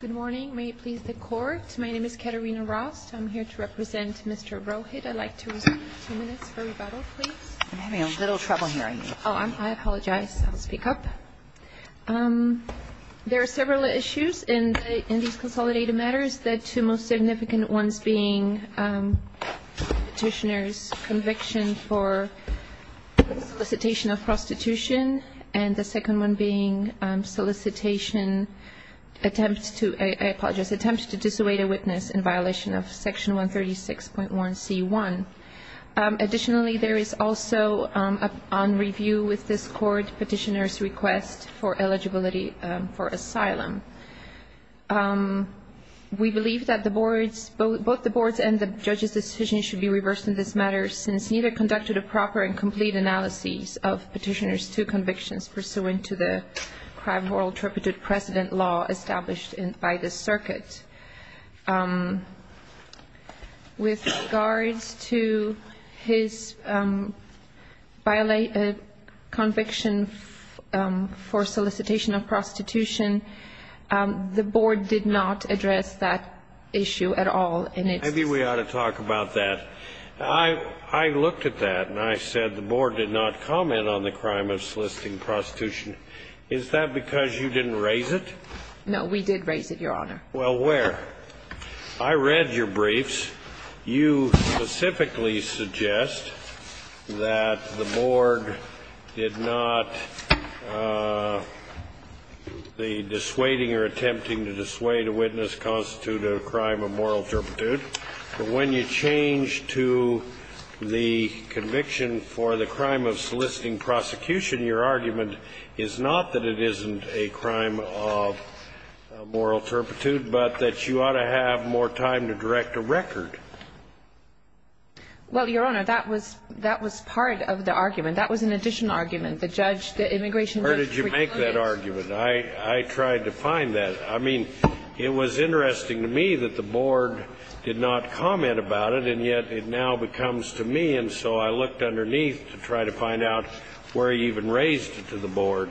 Good morning. May it please the Court. My name is Katerina Rost. I'm here to represent Mr. Rohit. I'd like to resume. Two minutes for rebuttal, please. I'm having a little trouble hearing you. I apologize. I'll speak up. There are several issues in these consolidated matters, the two most significant ones being the Petitioner's conviction for solicitation of prostitution, and the second one being solicitation, I apologize, attempts to dissuade a witness in violation of Section 136.1c.1. Additionally, there is also on review with this Court Petitioner's request for eligibility for asylum. We believe that both the Board's and the Judge's decisions should be reversed in this matter since neither conducted a proper and complete analysis of Petitioner's two convictions pursuant to the crime law interpreted precedent law established by the circuit. With regards to his conviction for solicitation of prostitution, the Board did not address that issue at all. Maybe we ought to talk about that. I looked at that and I said the Board did not comment on the crime of soliciting prostitution. Is that because you didn't raise it? No, we did raise it, Your Honor. Well, where? I read your briefs. You specifically suggest that the Board did not the dissuading or attempting to dissuade a witness constitute a crime of moral turpitude. But when you change to the conviction for the crime of soliciting prosecution, your argument is not that it isn't a crime of moral turpitude, but that you ought to have more time to direct a record. Well, Your Honor, that was part of the argument. That was an additional argument. Where did you make that argument? I tried to find that. I mean, it was interesting to me that the Board did not comment about it, and yet it now becomes to me. And so I looked underneath to try to find out where you even raised it to the Board.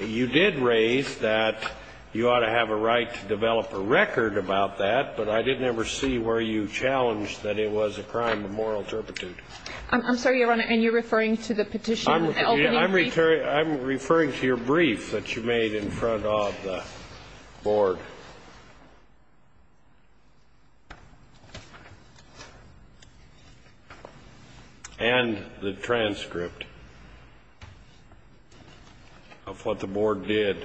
You did raise that you ought to have a right to develop a record about that, but I didn't ever see where you challenged that it was a crime of moral turpitude. I'm sorry, Your Honor, and you're referring to the petition opening brief? I'm referring to your brief that you made in front of the Board and the transcript of what the Board did.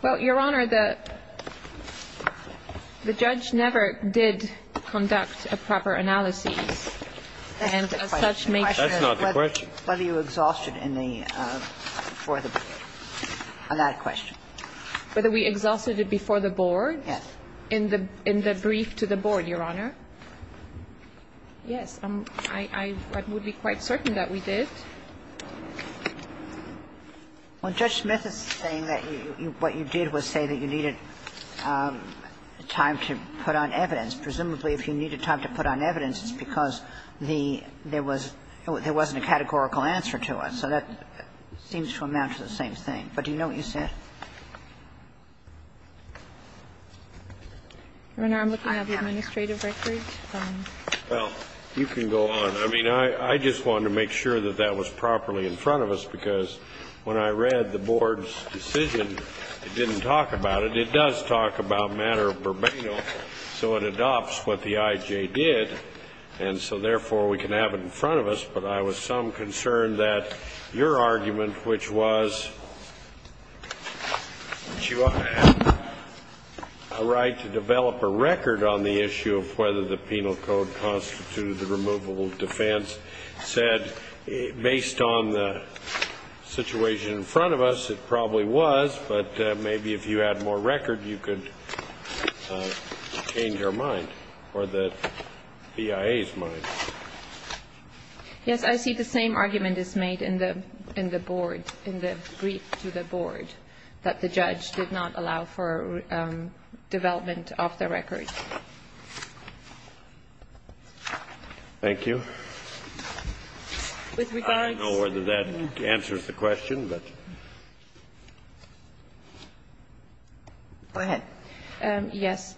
Well, Your Honor, the judge never did conduct a proper analysis, and as such made sure. That's not the question. That's not the question. Whether you exhausted in the before the Board, on that question. Whether we exhausted it before the Board? Yes. Yes. In the brief to the Board, Your Honor. Yes. I would be quite certain that we did. Well, Judge Smith is saying that what you did was say that you needed time to put on evidence. Presumably, if you needed time to put on evidence, it's because there wasn't a categorical answer to it. So that seems to amount to the same thing. But do you know what you said? Your Honor, I'm looking at the administrative record. Well, you can go on. I mean, I just wanted to make sure that that was properly in front of us, because when I read the Board's decision, it didn't talk about it. It does talk about matter of verbatim, so it adopts what the IJ did, and so, therefore, we can have it in front of us. But I was some concern that your argument, which was that you ought to have a right to develop a record on the issue of whether the penal code constitutes a removable defense, said, based on the situation in front of us, it probably was. But maybe if you had more record, you could change our mind or the BIA's mind. Yes. I see the same argument is made in the Board, in the brief to the Board, that the judge did not allow for development of the record. Thank you. I don't know whether that answers the question, but... Go ahead. Yes.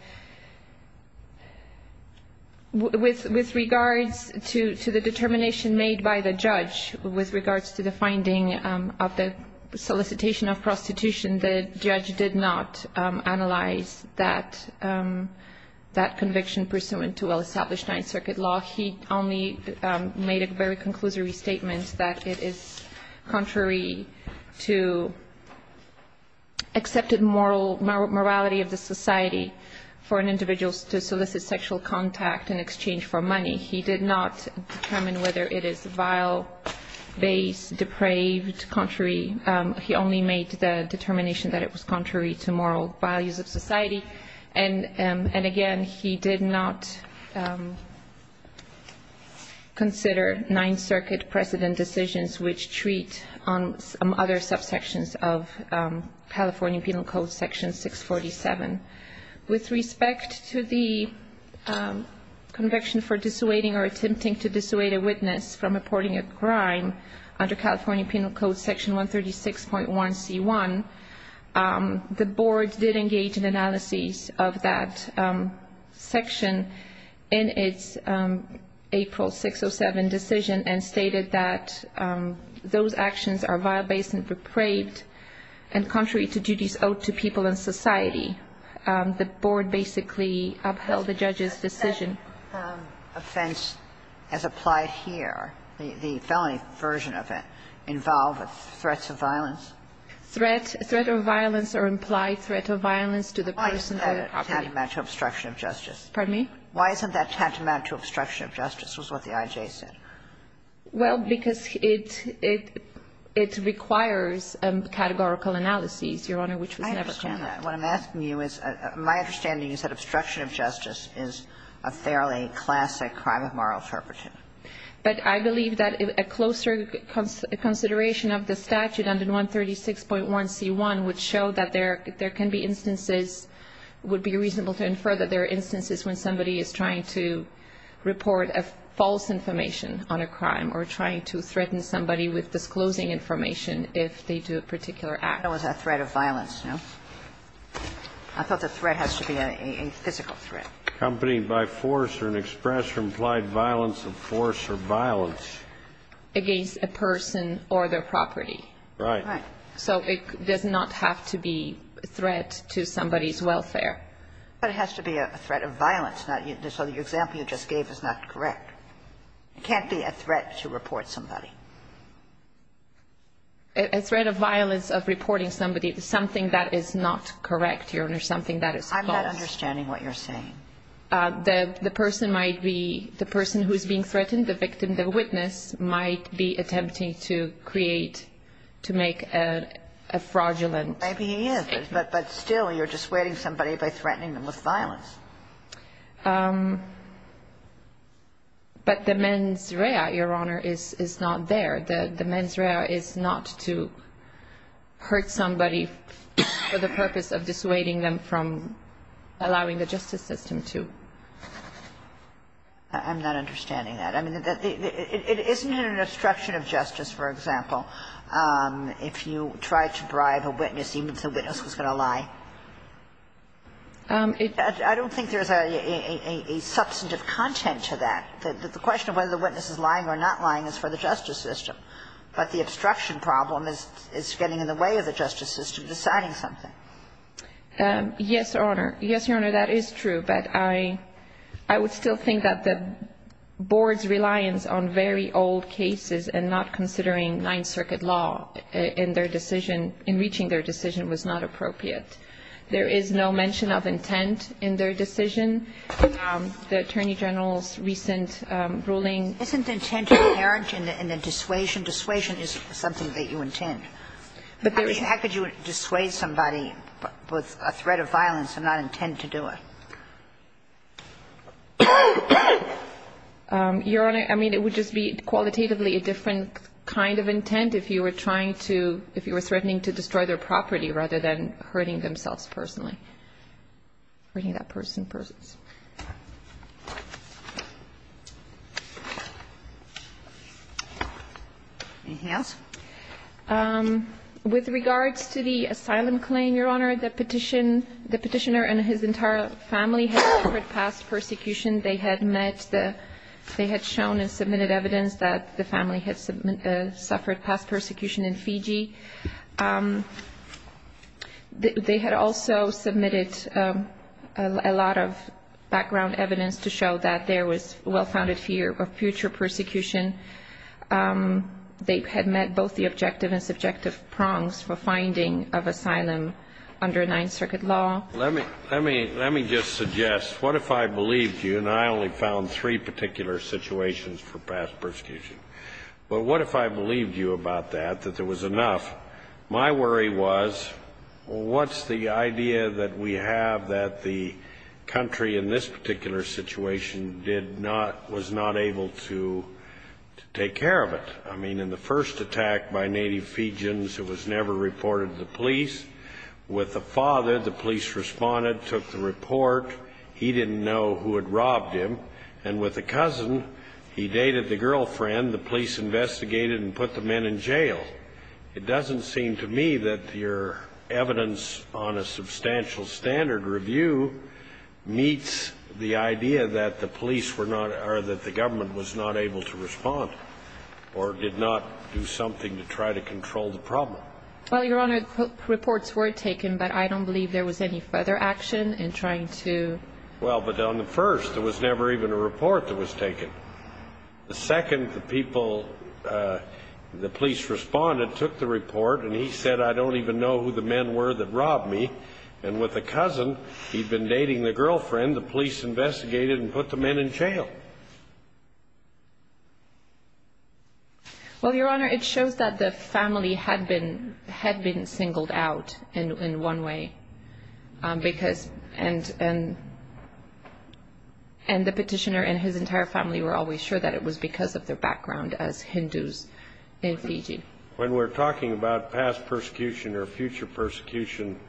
With regards to the determination made by the judge with regards to the finding of the solicitation of prostitution, the judge did not analyze that conviction pursuant to well-established Ninth Circuit law. He only made a very conclusory statement that it is contrary to accepted morality of the society for an individual to solicit sexual contact in exchange for money. He did not determine whether it is vile, base, depraved, contrary. He only made the determination that it was contrary to moral values of society. And, again, he did not consider Ninth Circuit precedent decisions, which treat on some other subsections of California Penal Code Section 647. With respect to the conviction for dissuading or attempting to dissuade a witness from reporting a crime under California Penal Code Section 136.1c1, the Board did engage in analysis of that section in its April 607 decision and stated that those actions are vile, base, depraved, and contrary to duties owed to people and society. The Board basically upheld the judge's decision. And that offense as applied here, the felony version of it, involved threats of violence? Threat of violence or implied threat of violence to the person or property. Why isn't that tantamount to obstruction of justice? Pardon me? Why isn't that tantamount to obstruction of justice was what the I.J. said. Well, because it requires categorical analyses, Your Honor, which was never commented. I understand that. What I'm asking you is, my understanding is that obstruction of justice is a fairly classic crime of moral turpitude. But I believe that a closer consideration of the statute under 136.1c1 would show that there can be instances, would be reasonable to infer that there are instances when somebody is trying to report a false information on a crime or trying to threaten somebody with disclosing information if they do a particular act. That was a threat of violence, no? I thought the threat has to be a physical threat. Accompanying by force or an express or implied violence of force or violence. Against a person or their property. Right. So it does not have to be a threat to somebody's welfare. But it has to be a threat of violence. So the example you just gave is not correct. It can't be a threat to report somebody. A threat of violence of reporting somebody, something that is not correct, Your Honor, something that is false. I'm not understanding what you're saying. The person might be, the person who is being threatened, the victim, the witness, might be attempting to create, to make a fraudulent. Maybe he is. But still you're dissuading somebody by threatening them with violence. But the mens rea, Your Honor, is not there. The mens rea is not to hurt somebody for the purpose of dissuading them from allowing the justice system to. I'm not understanding that. I mean, it isn't an obstruction of justice, for example, if you try to bribe a witness, even if the witness was going to lie. I don't think there is a substantive content to that. The question of whether the witness is lying or not lying is for the justice system. But the obstruction problem is getting in the way of the justice system deciding something. Yes, Your Honor. Yes, Your Honor, that is true. But I would still think that the board's reliance on very old cases and not considering Ninth Circuit law in their decision, in reaching their decision, was not appropriate. There is no mention of intent in their decision. The Attorney General's recent ruling. Isn't intent inherent in the dissuasion? Dissuasion is something that you intend. How could you dissuade somebody with a threat of violence and not intend to do it? Your Honor, I mean, it would just be qualitatively a different kind of intent if you were trying to, if you were threatening to destroy their property rather than hurting themselves personally, hurting that person personally. Anything else? With regards to the asylum claim, Your Honor, the petitioner and his entire family had suffered past persecution. They had met the, they had shown and submitted evidence that the family had suffered past persecution in Fiji. They had also submitted a lot of background evidence to show that there was well-founded fear of future persecution. They had met both the objective and subjective prongs for finding of asylum under Ninth Circuit law. Let me just suggest, what if I believed you, and I only found three particular situations for past persecution, but what if I believed you about that, that there was enough? My worry was, what's the idea that we have that the country in this particular situation did not, was not able to take care of it? I mean, in the first attack by native Fijians, it was never reported to the police. With the father, the police responded, took the report. He didn't know who had robbed him. And with the cousin, he dated the girlfriend. The police investigated and put the men in jail. It doesn't seem to me that your evidence on a substantial standard review meets the idea that the police were not, or that the government was not able to respond or did not do something to try to control the problem. Well, Your Honor, reports were taken, but I don't believe there was any further action in trying to... Well, but on the first, there was never even a report that was taken. The second, the people, the police responded, took the report, and he said, I don't even know who the men were that robbed me. And with the cousin, he'd been dating the girlfriend. The police investigated and put the men in jail. Well, Your Honor, it shows that the family had been singled out in one way, and the petitioner and his entire family were always sure that it was because of their background as Hindus in Fiji. When we're talking about past persecution or future persecution,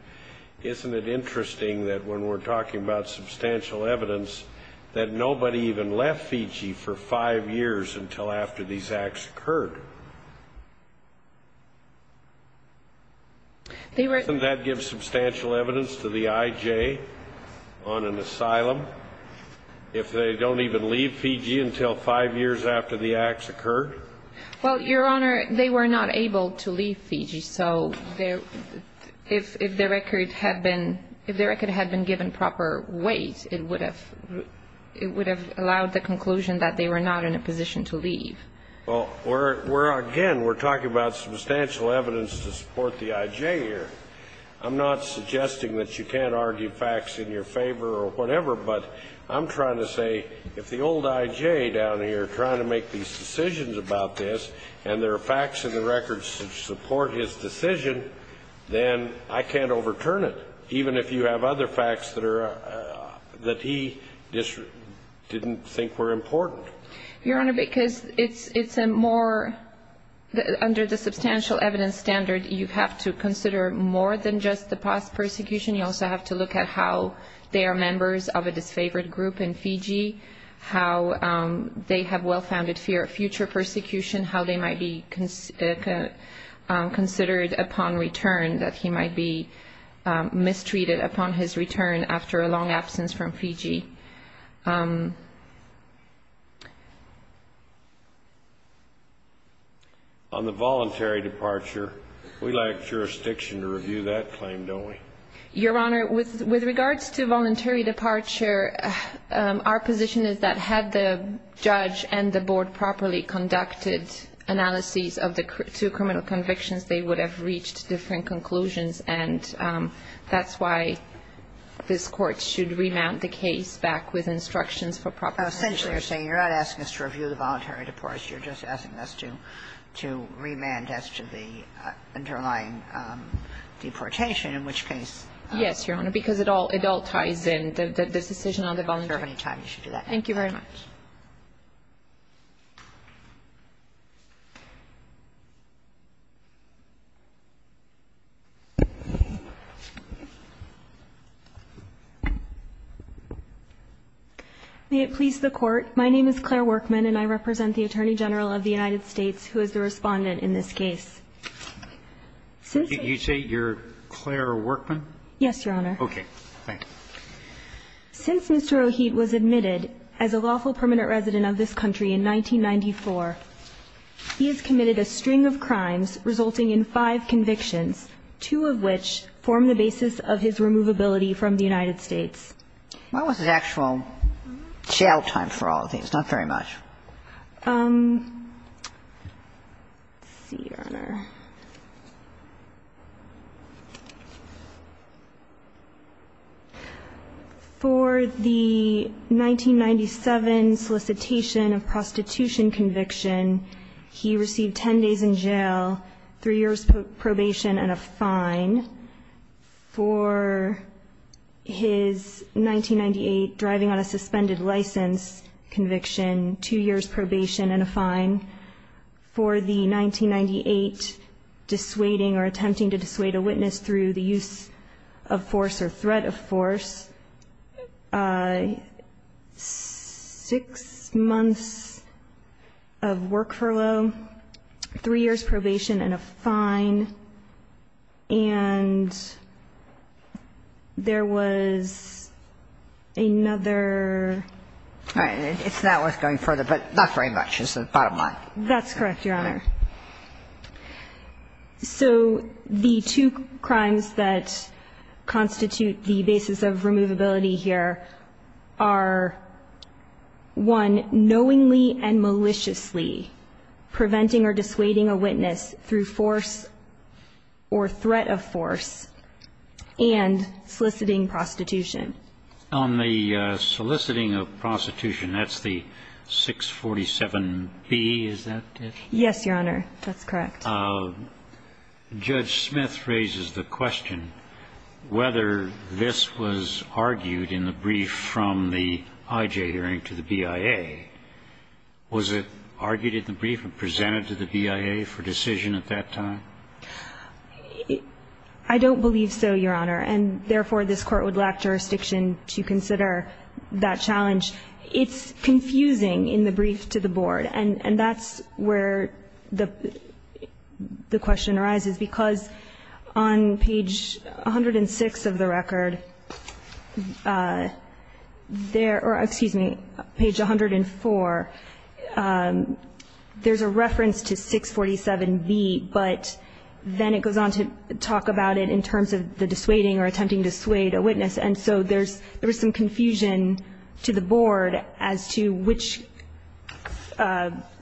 isn't it interesting that when we're talking about substantial evidence that nobody even left Fiji for five years until after these acts occurred? They were... Doesn't that give substantial evidence to the IJ on an asylum if they don't even leave Fiji until five years after the acts occurred? Well, Your Honor, they were not able to leave Fiji, so if the record had been given proper weight, it would have allowed the conclusion that they were not in a position to leave. Well, again, we're talking about substantial evidence to support the IJ here. I'm not suggesting that you can't argue facts in your favor or whatever, but I'm trying to say if the old IJ down here trying to make these decisions about this and there are facts in the records that support his decision, then I can't overturn it, even if you have other facts that he didn't think were important. Your Honor, because it's a more... Under the substantial evidence standard, you have to consider more than just the past persecution. You also have to look at how they are members of a disfavored group in Fiji, how they have well-founded fear of future persecution, how they might be considered upon return, that he might be mistreated upon his return after a long absence from Fiji. On the voluntary departure, we lack jurisdiction to review that claim, don't we? Your Honor, with regards to voluntary departure, our position is that had the judge and the board properly conducted analyses of the two criminal convictions, they would have reached different conclusions, and that's why this Court should remand the case back with instructions for proper... Essentially, you're saying you're not asking us to review the voluntary departure, you're just asking us to remand as to the underlying deportation, in which case... Yes, Your Honor. Because it all ties in, the decision on the voluntary departure. I don't have any time. You should do that. Thank you very much. May it please the Court. My name is Claire Workman, and I represent the Attorney General of the United States, who is the respondent in this case. You say you're Claire Workman? Yes, Your Honor. Okay. Thank you. Since Mr. Rohit was admitted as a lawful permanent resident of this country in 1994, he has committed a string of crimes resulting in five convictions, two of which form the basis of his removability from the United States. When was his actual jail time for all of these? Not very much. Let's see, Your Honor. For the 1997 solicitation of prostitution conviction, he received ten days in jail, three years probation, and a fine. For his 1998 driving on a suspended license conviction, two years probation and a fine. For the 1998 dissuading or attempting to dissuade a witness through the use of force or threat of force, six months of work furlough, three years probation and a fine. And there was another ---- All right. It's not worth going further, but not very much is the bottom line. That's correct, Your Honor. So the two crimes that constitute the basis of removability here are, one, knowingly and maliciously preventing or dissuading a witness through force or threat of force, and soliciting prostitution. On the soliciting of prostitution, that's the 647B, is that it? Yes, Your Honor. That's correct. Judge Smith raises the question whether this was argued in the brief from the IJ hearing to the BIA. Was it argued in the brief and presented to the BIA for decision at that time? I don't believe so, Your Honor. And therefore, this Court would lack jurisdiction to consider that challenge. It's confusing in the brief to the Board. And that's where the question arises, because on page 106 of the record, there ---- or excuse me, page 104, there's a reference to 647B, but then it goes on to talk about it in terms of the dissuading or attempting to sway a witness. And so there's some confusion to the Board as to which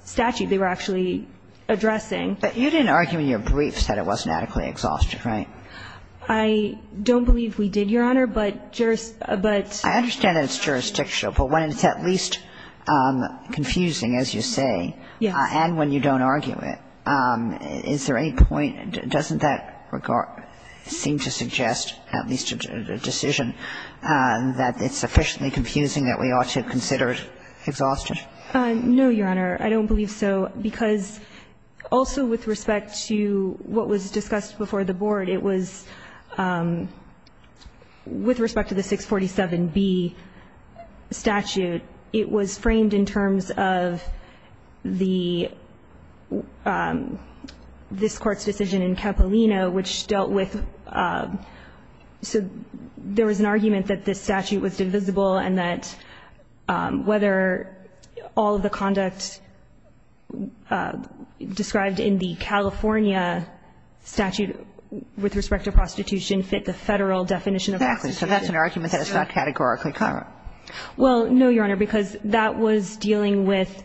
statute they were actually addressing. But you didn't argue in your briefs that it wasn't adequately exhaustive, right? I don't believe we did, Your Honor, but juris ---- but ---- I understand that it's jurisdictional, but when it's at least confusing, as you say, and when you don't argue it, is there any point? Doesn't that regard seem to suggest at least a decision that it's sufficiently confusing that we ought to consider it exhaustive? No, Your Honor. I don't believe so, because also with respect to what was discussed before the Board, it was with respect to the 647B statute, it was framed in terms of the ---- this Court's decision in Capolino which dealt with ---- so there was an argument that this statute was divisible and that whether all of the conduct described in the California statute with respect to prostitution fit the Federal definition of prostitution. Exactly. So that's an argument that it's not categorically covered. Well, no, Your Honor, because that was dealing with ----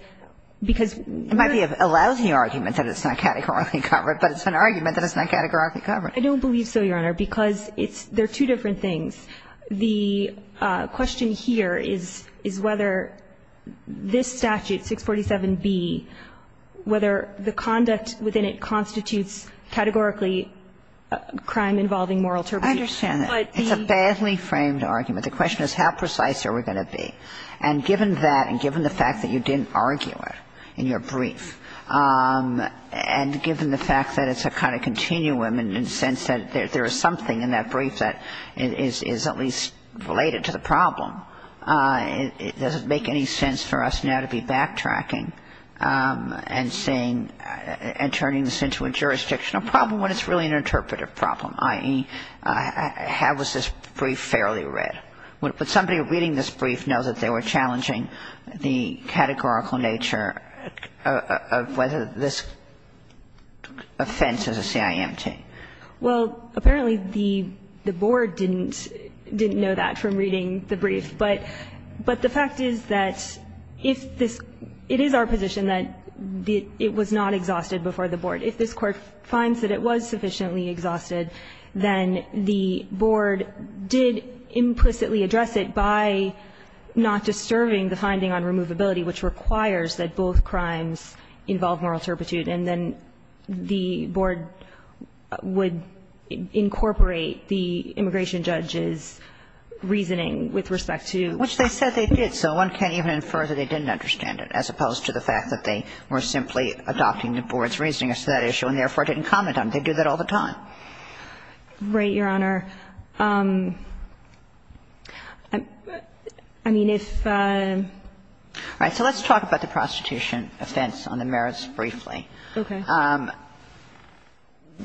because ---- It might be a lousy argument that it's not categorically covered, but it's an argument that it's not categorically covered. I don't believe so, Your Honor, because it's ---- they're two different things. The question here is, is whether this statute, 647B, whether the conduct within it constitutes categorically a crime involving moral turpitude. I understand that. But the ---- It's a badly framed argument. The question is how precise are we going to be? And given that and given the fact that you didn't argue it in your brief and given the fact that it's a kind of continuum in the sense that there is something in that brief that is at least related to the problem, does it make any sense for us now to be backtracking and saying ---- and turning this into a jurisdictional problem when it's really an interpretive problem, i.e., how is this brief fairly justified? Would somebody reading this brief know that they were challenging the categorical nature of whether this offense is a CIMT? Well, apparently the Board didn't know that from reading the brief. But the fact is that if this ---- it is our position that it was not exhausted before the Board. If this Court finds that it was sufficiently exhausted, then the Board did implicitly address it by not disturbing the finding on removability, which requires that both crimes involve moral turpitude, and then the Board would incorporate the immigration judge's reasoning with respect to ---- Which they said they did. So one can't even infer that they didn't understand it, as opposed to the fact that they were simply adopting the Board's reasoning as to that issue and therefore didn't comment on it. They do that all the time. Right, Your Honor. I mean, if ---- All right. So let's talk about the prostitution offense on the merits briefly. Okay.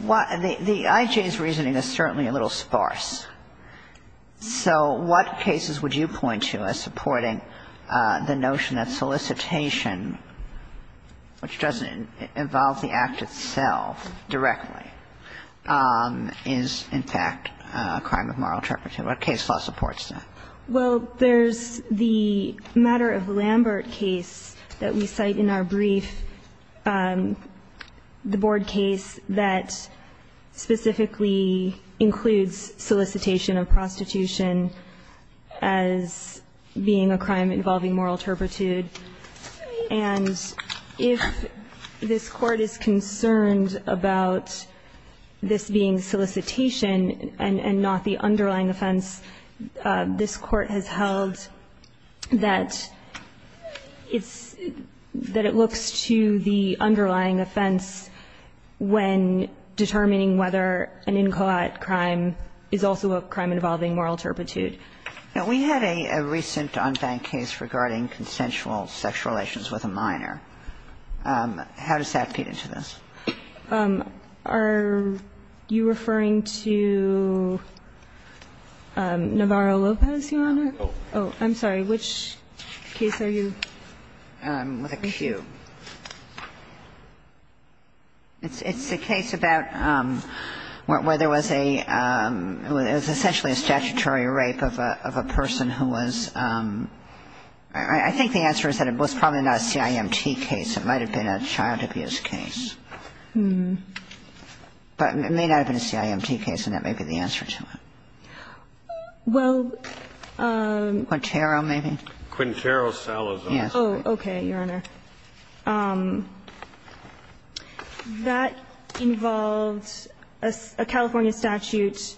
The IJ's reasoning is certainly a little sparse. So what cases would you point to as supporting the notion that solicitation, which doesn't involve the act itself directly, is in fact a crime of moral turpitude? What case law supports that? Well, there's the matter of Lambert case that we cite in our brief, the Board case that specifically includes solicitation of prostitution as being a crime involving moral turpitude. And if this Court is concerned about this being solicitation and not the underlying offense, this Court has held that it's ---- that it looks to the underlying offense when determining whether an incoit crime is also a crime involving moral turpitude. Now, we had a recent on-bank case regarding consensual sexual relations with a minor. How does that fit into this? Are you referring to Navarro-Lopez, Your Honor? Oh, I'm sorry. Which case are you ---- With a Q. It's the case about where there was a ---- it was essentially a statutory rape of a person who was ---- I think the answer is that it was probably not a CIMT case. It might have been a child abuse case. But it may not have been a CIMT case, and that may be the answer to it. Well ---- Quintero, maybe? Quintero-Salazar. Yes. Oh, okay, Your Honor. That involves a California statute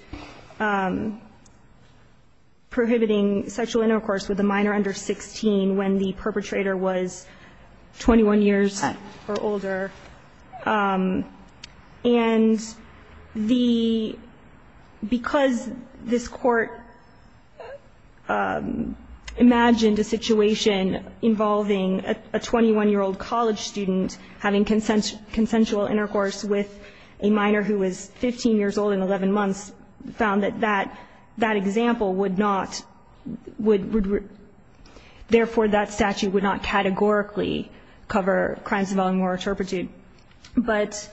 prohibiting sexual intercourse with a minor under 16 when the perpetrator was 21 years or older. And the ---- because this Court imagined a situation involving a 21-year-old college student having consensual intercourse with a minor who was 15 years old in 11 months, found that that example would not ---- therefore, that statute would not apply. But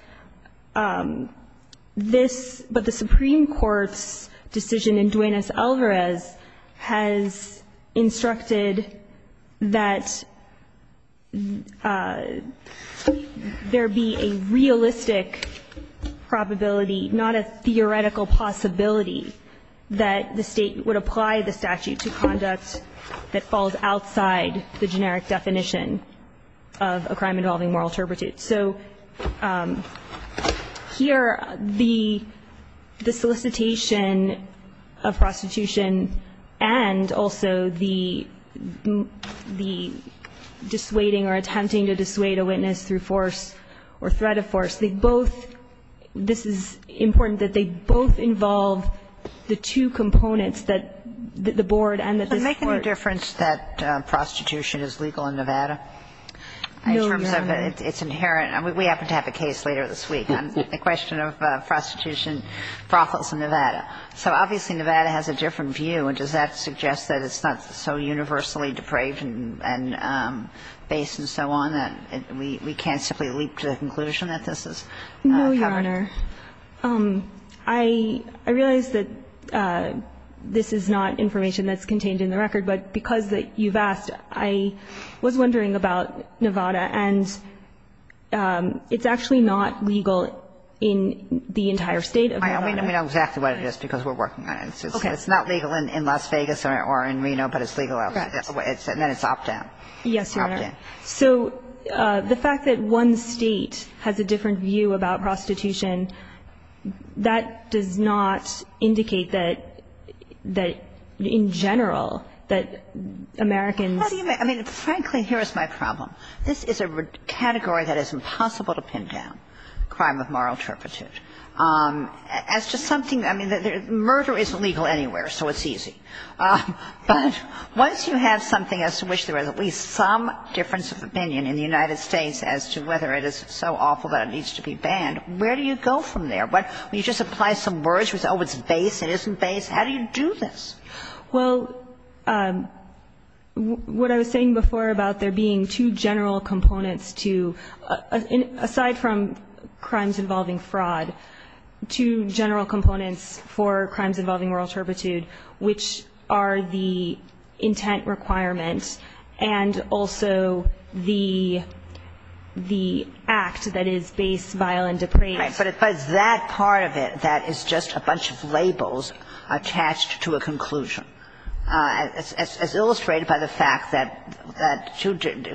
this ---- but the Supreme Court's decision in Duenas-Alvarez has instructed that there be a realistic probability, not a theoretical possibility, that the State would apply the statute to conduct that falls outside the generic definition of a crime involving moral turpitude. So here, the solicitation of prostitution and also the dissuading or attempting to dissuade a witness through force or threat of force, they both ---- this is important that they both involve the two components that the Board and that this Court ---- Does it make any difference that prostitution is legal in Nevada? No, Your Honor. In terms of its inherent ---- we happen to have a case later this week on the question of prostitution, brothels in Nevada. So obviously, Nevada has a different view, and does that suggest that it's not so universally depraved and based and so on that we can't simply leap to the conclusion that this is covered? No, Your Honor. I realize that this is not information that's contained in the record, but because you've asked, I was wondering about Nevada. And it's actually not legal in the entire State of Nevada. I mean, we know exactly what it is because we're working on it. Okay. It's not legal in Las Vegas or in Reno, but it's legal elsewhere. And then it's opt-out. Yes, Your Honor. So the fact that one State has a different view about prostitution, that does not I mean, frankly, here is my problem. This is a category that is impossible to pin down, crime of moral turpitude. As to something ---- I mean, murder is illegal anywhere, so it's easy. But once you have something as to which there is at least some difference of opinion in the United States as to whether it is so awful that it needs to be banned, where do you go from there? When you just apply some words, you say, oh, it's base, it isn't base. How do you do this? Well, what I was saying before about there being two general components to ---- aside from crimes involving fraud, two general components for crimes involving moral turpitude, which are the intent requirement and also the act that is base, vile, and depraved. But it's that part of it that is just a bunch of labels attached to a conclusion. As illustrated by the fact that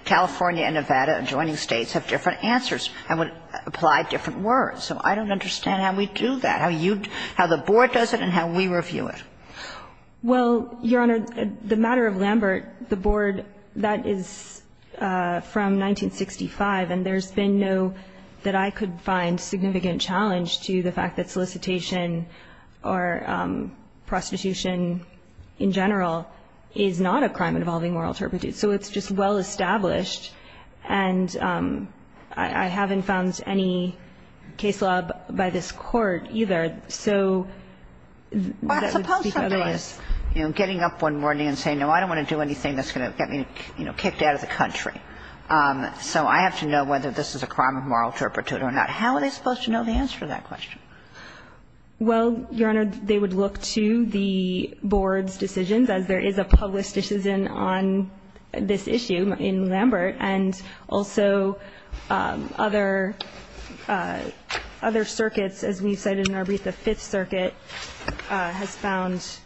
California and Nevada, adjoining States, have different answers and would apply different words. So I don't understand how we do that, how you ---- how the Board does it and how we review it. Well, Your Honor, the matter of Lambert, the Board, that is from 1965, and there's been no ---- that I could find significant challenge to the fact that solicitation or prostitution in general is not a crime involving moral turpitude. So it's just well established, and I haven't found any case law by this Court either so that would speak otherwise. But suppose somebody is, you know, getting up one morning and saying, no, I don't want to do anything that's going to get me, you know, kicked out of the country. So I have to know whether this is a crime of moral turpitude or not. How are they supposed to know the answer to that question? Well, Your Honor, they would look to the Board's decisions, as there is a public decision on this issue in Lambert, and also other circuits, as we've cited in our brief, the Fifth Circuit has found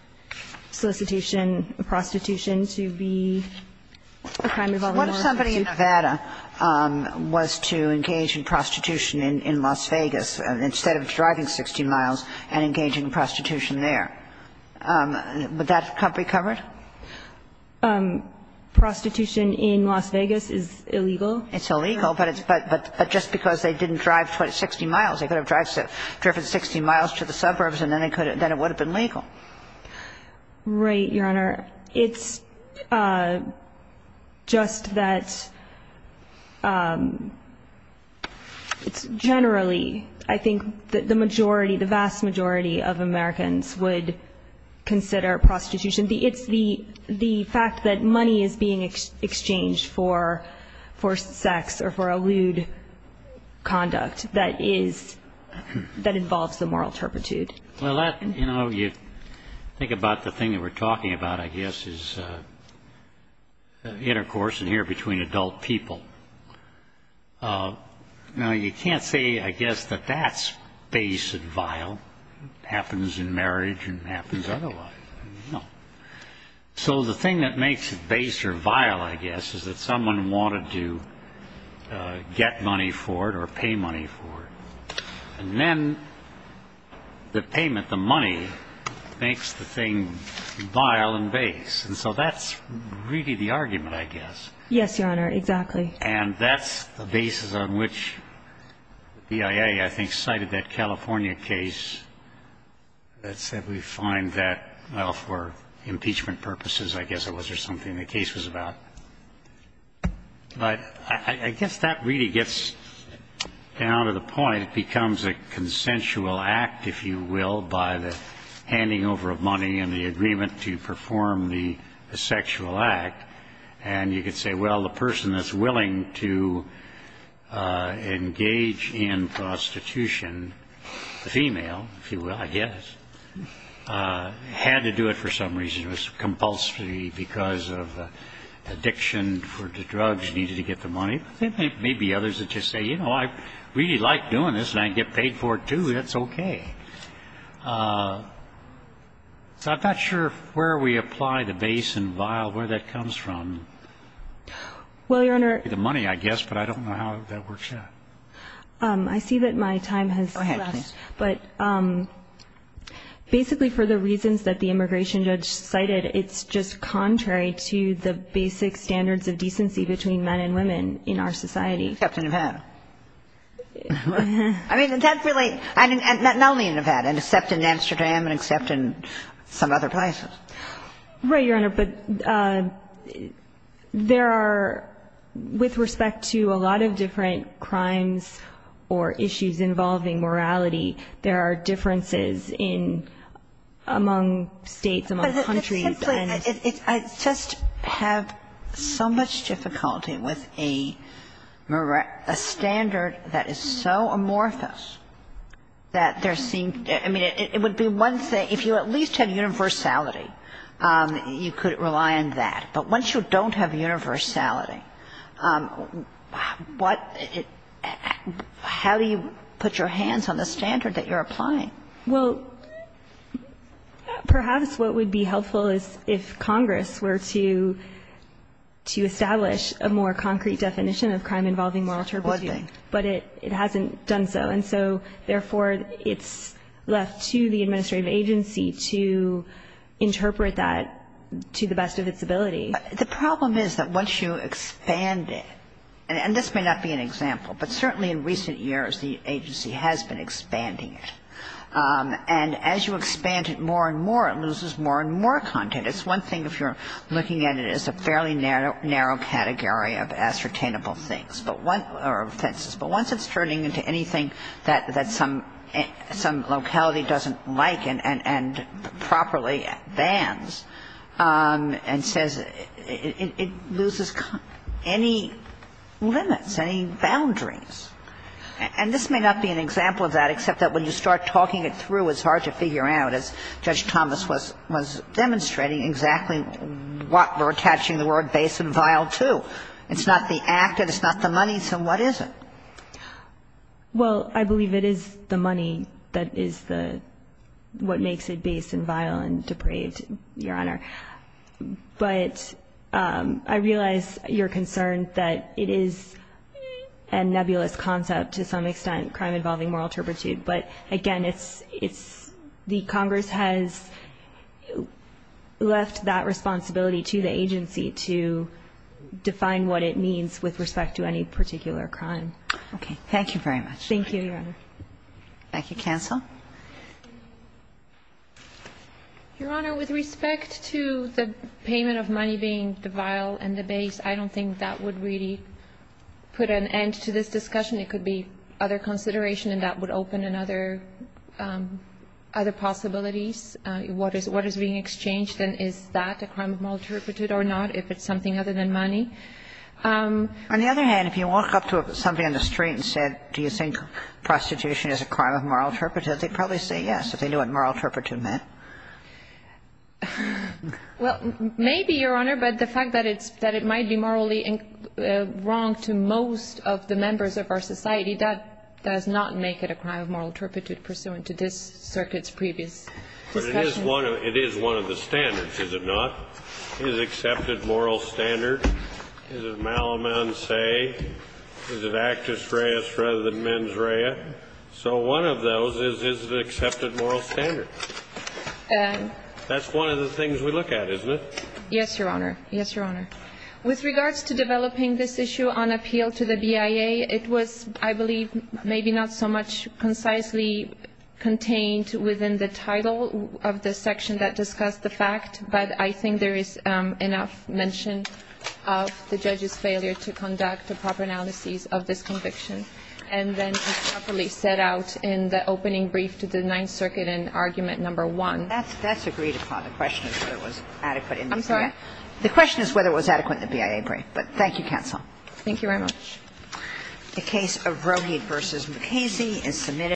solicitation, prostitution to be a crime involving moral turpitude. If somebody in Nevada was to engage in prostitution in Las Vegas, instead of driving 60 miles and engaging in prostitution there, would that be covered? Prostitution in Las Vegas is illegal. It's illegal, but just because they didn't drive 60 miles, they could have driven 60 miles to the suburbs and then it would have been legal. Right, Your Honor. Your Honor, it's just that it's generally, I think, the majority, the vast majority of Americans would consider prostitution. It's the fact that money is being exchanged for sex or for a lewd conduct that involves the moral turpitude. Well, you know, you think about the thing that we're talking about, I guess, is intercourse in here between adult people. Now, you can't say, I guess, that that's base and vile. It happens in marriage and it happens otherwise. No. So the thing that makes it base or vile, I guess, is that someone wanted to get money for it or pay money for it. And then the payment, the money, makes the thing vile and base. And so that's really the argument, I guess. Yes, Your Honor, exactly. And that's the basis on which the BIA, I think, cited that California case that said we find that, well, for impeachment purposes, I guess it was, or something the case was about. But I guess that really gets down to the point. It becomes a consensual act, if you will, by the handing over of money and the agreement to perform the sexual act. And you could say, well, the person that's willing to engage in prostitution, the female, if you will, I guess, had to do it for some reason. It was compulsory because of addiction or the drugs needed to get the money. I think there may be others that just say, you know, I really like doing this and I can get paid for it, too. That's okay. So I'm not sure where we apply the base and vile, where that comes from. Well, Your Honor. The money, I guess, but I don't know how that works out. I see that my time has left. Go ahead, please. But basically for the reasons that the immigration judge cited, it's just contrary to the basic standards of decency between men and women in our society. Except in Nevada. I mean, that's really not only in Nevada, except in Amsterdam and except in some other places. Right, Your Honor. But there are, with respect to a lot of different crimes or issues involving morality, there are differences in, among states, among countries. But essentially, I just have so much difficulty with a standard that is so amorphous that there seems, I mean, it would be one thing, if you at least have universality, you could rely on that. But once you don't have universality, what, how do you put your hands on the standard that you're applying? Well, perhaps what would be helpful is if Congress were to establish a more concrete definition of crime involving moral turpitude. But it hasn't done so. And so, therefore, it's left to the administrative agency to interpret that to the best of its ability. The problem is that once you expand it, and this may not be an example, but certainly in recent years, the agency has been expanding it. And as you expand it more and more, it loses more and more content. It's one thing if you're looking at it as a fairly narrow category of ascertainable things or offenses. But once it's turning into anything that some locality doesn't like and properly bans and says, it loses any limits, any boundaries. And this may not be an example of that, except that when you start talking it through, it's hard to figure out, as Judge Thomas was demonstrating, exactly what we're attaching the word base and vile to. It's not the act and it's not the money, so what is it? Well, I believe it is the money that is what makes it base and vile and depraved, Your Honor. But I realize your concern that it is a nebulous concept to some extent, crime involving moral turpitude. But, again, it's the Congress has left that responsibility to the agency to define what it means with respect to any particular crime. Okay. Thank you very much. Thank you, Your Honor. Thank you. Counsel? Your Honor, with respect to the payment of money being the vile and the base, I don't think that would really put an end to this discussion. It could be other consideration and that would open another other possibilities what is being exchanged and is that a crime of moral turpitude or not, if it's something other than money? On the other hand, if you walk up to somebody on the street and said, do you think prostitution is a crime of moral turpitude, they'd probably say yes, if they knew what moral turpitude meant. Well, maybe, Your Honor, but the fact that it's that it might be morally wrong to most of the members of our society, that does not make it a crime of moral turpitude pursuant to this circuit's previous discussion. But it is one of the standards, is it not? Is it an accepted moral standard? Is it malamance? Is it actus reus rather than mens rea? So one of those is, is it an accepted moral standard? That's one of the things we look at, isn't it? Yes, Your Honor. Yes, Your Honor. With regards to developing this issue on appeal to the BIA, it was, I believe, maybe not so much concisely contained within the title of the section that discussed the fact, but I think there is enough mention of the judge's failure to conduct a proper analysis of this conviction. And then it's properly set out in the opening brief to the Ninth Circuit in argument number one. That's agreed upon. The question is whether it was adequate in the BIA. I'm sorry? The question is whether it was adequate in the BIA brief. But thank you, counsel. Thank you very much. The case of Roehig v. Mukasey is submitted.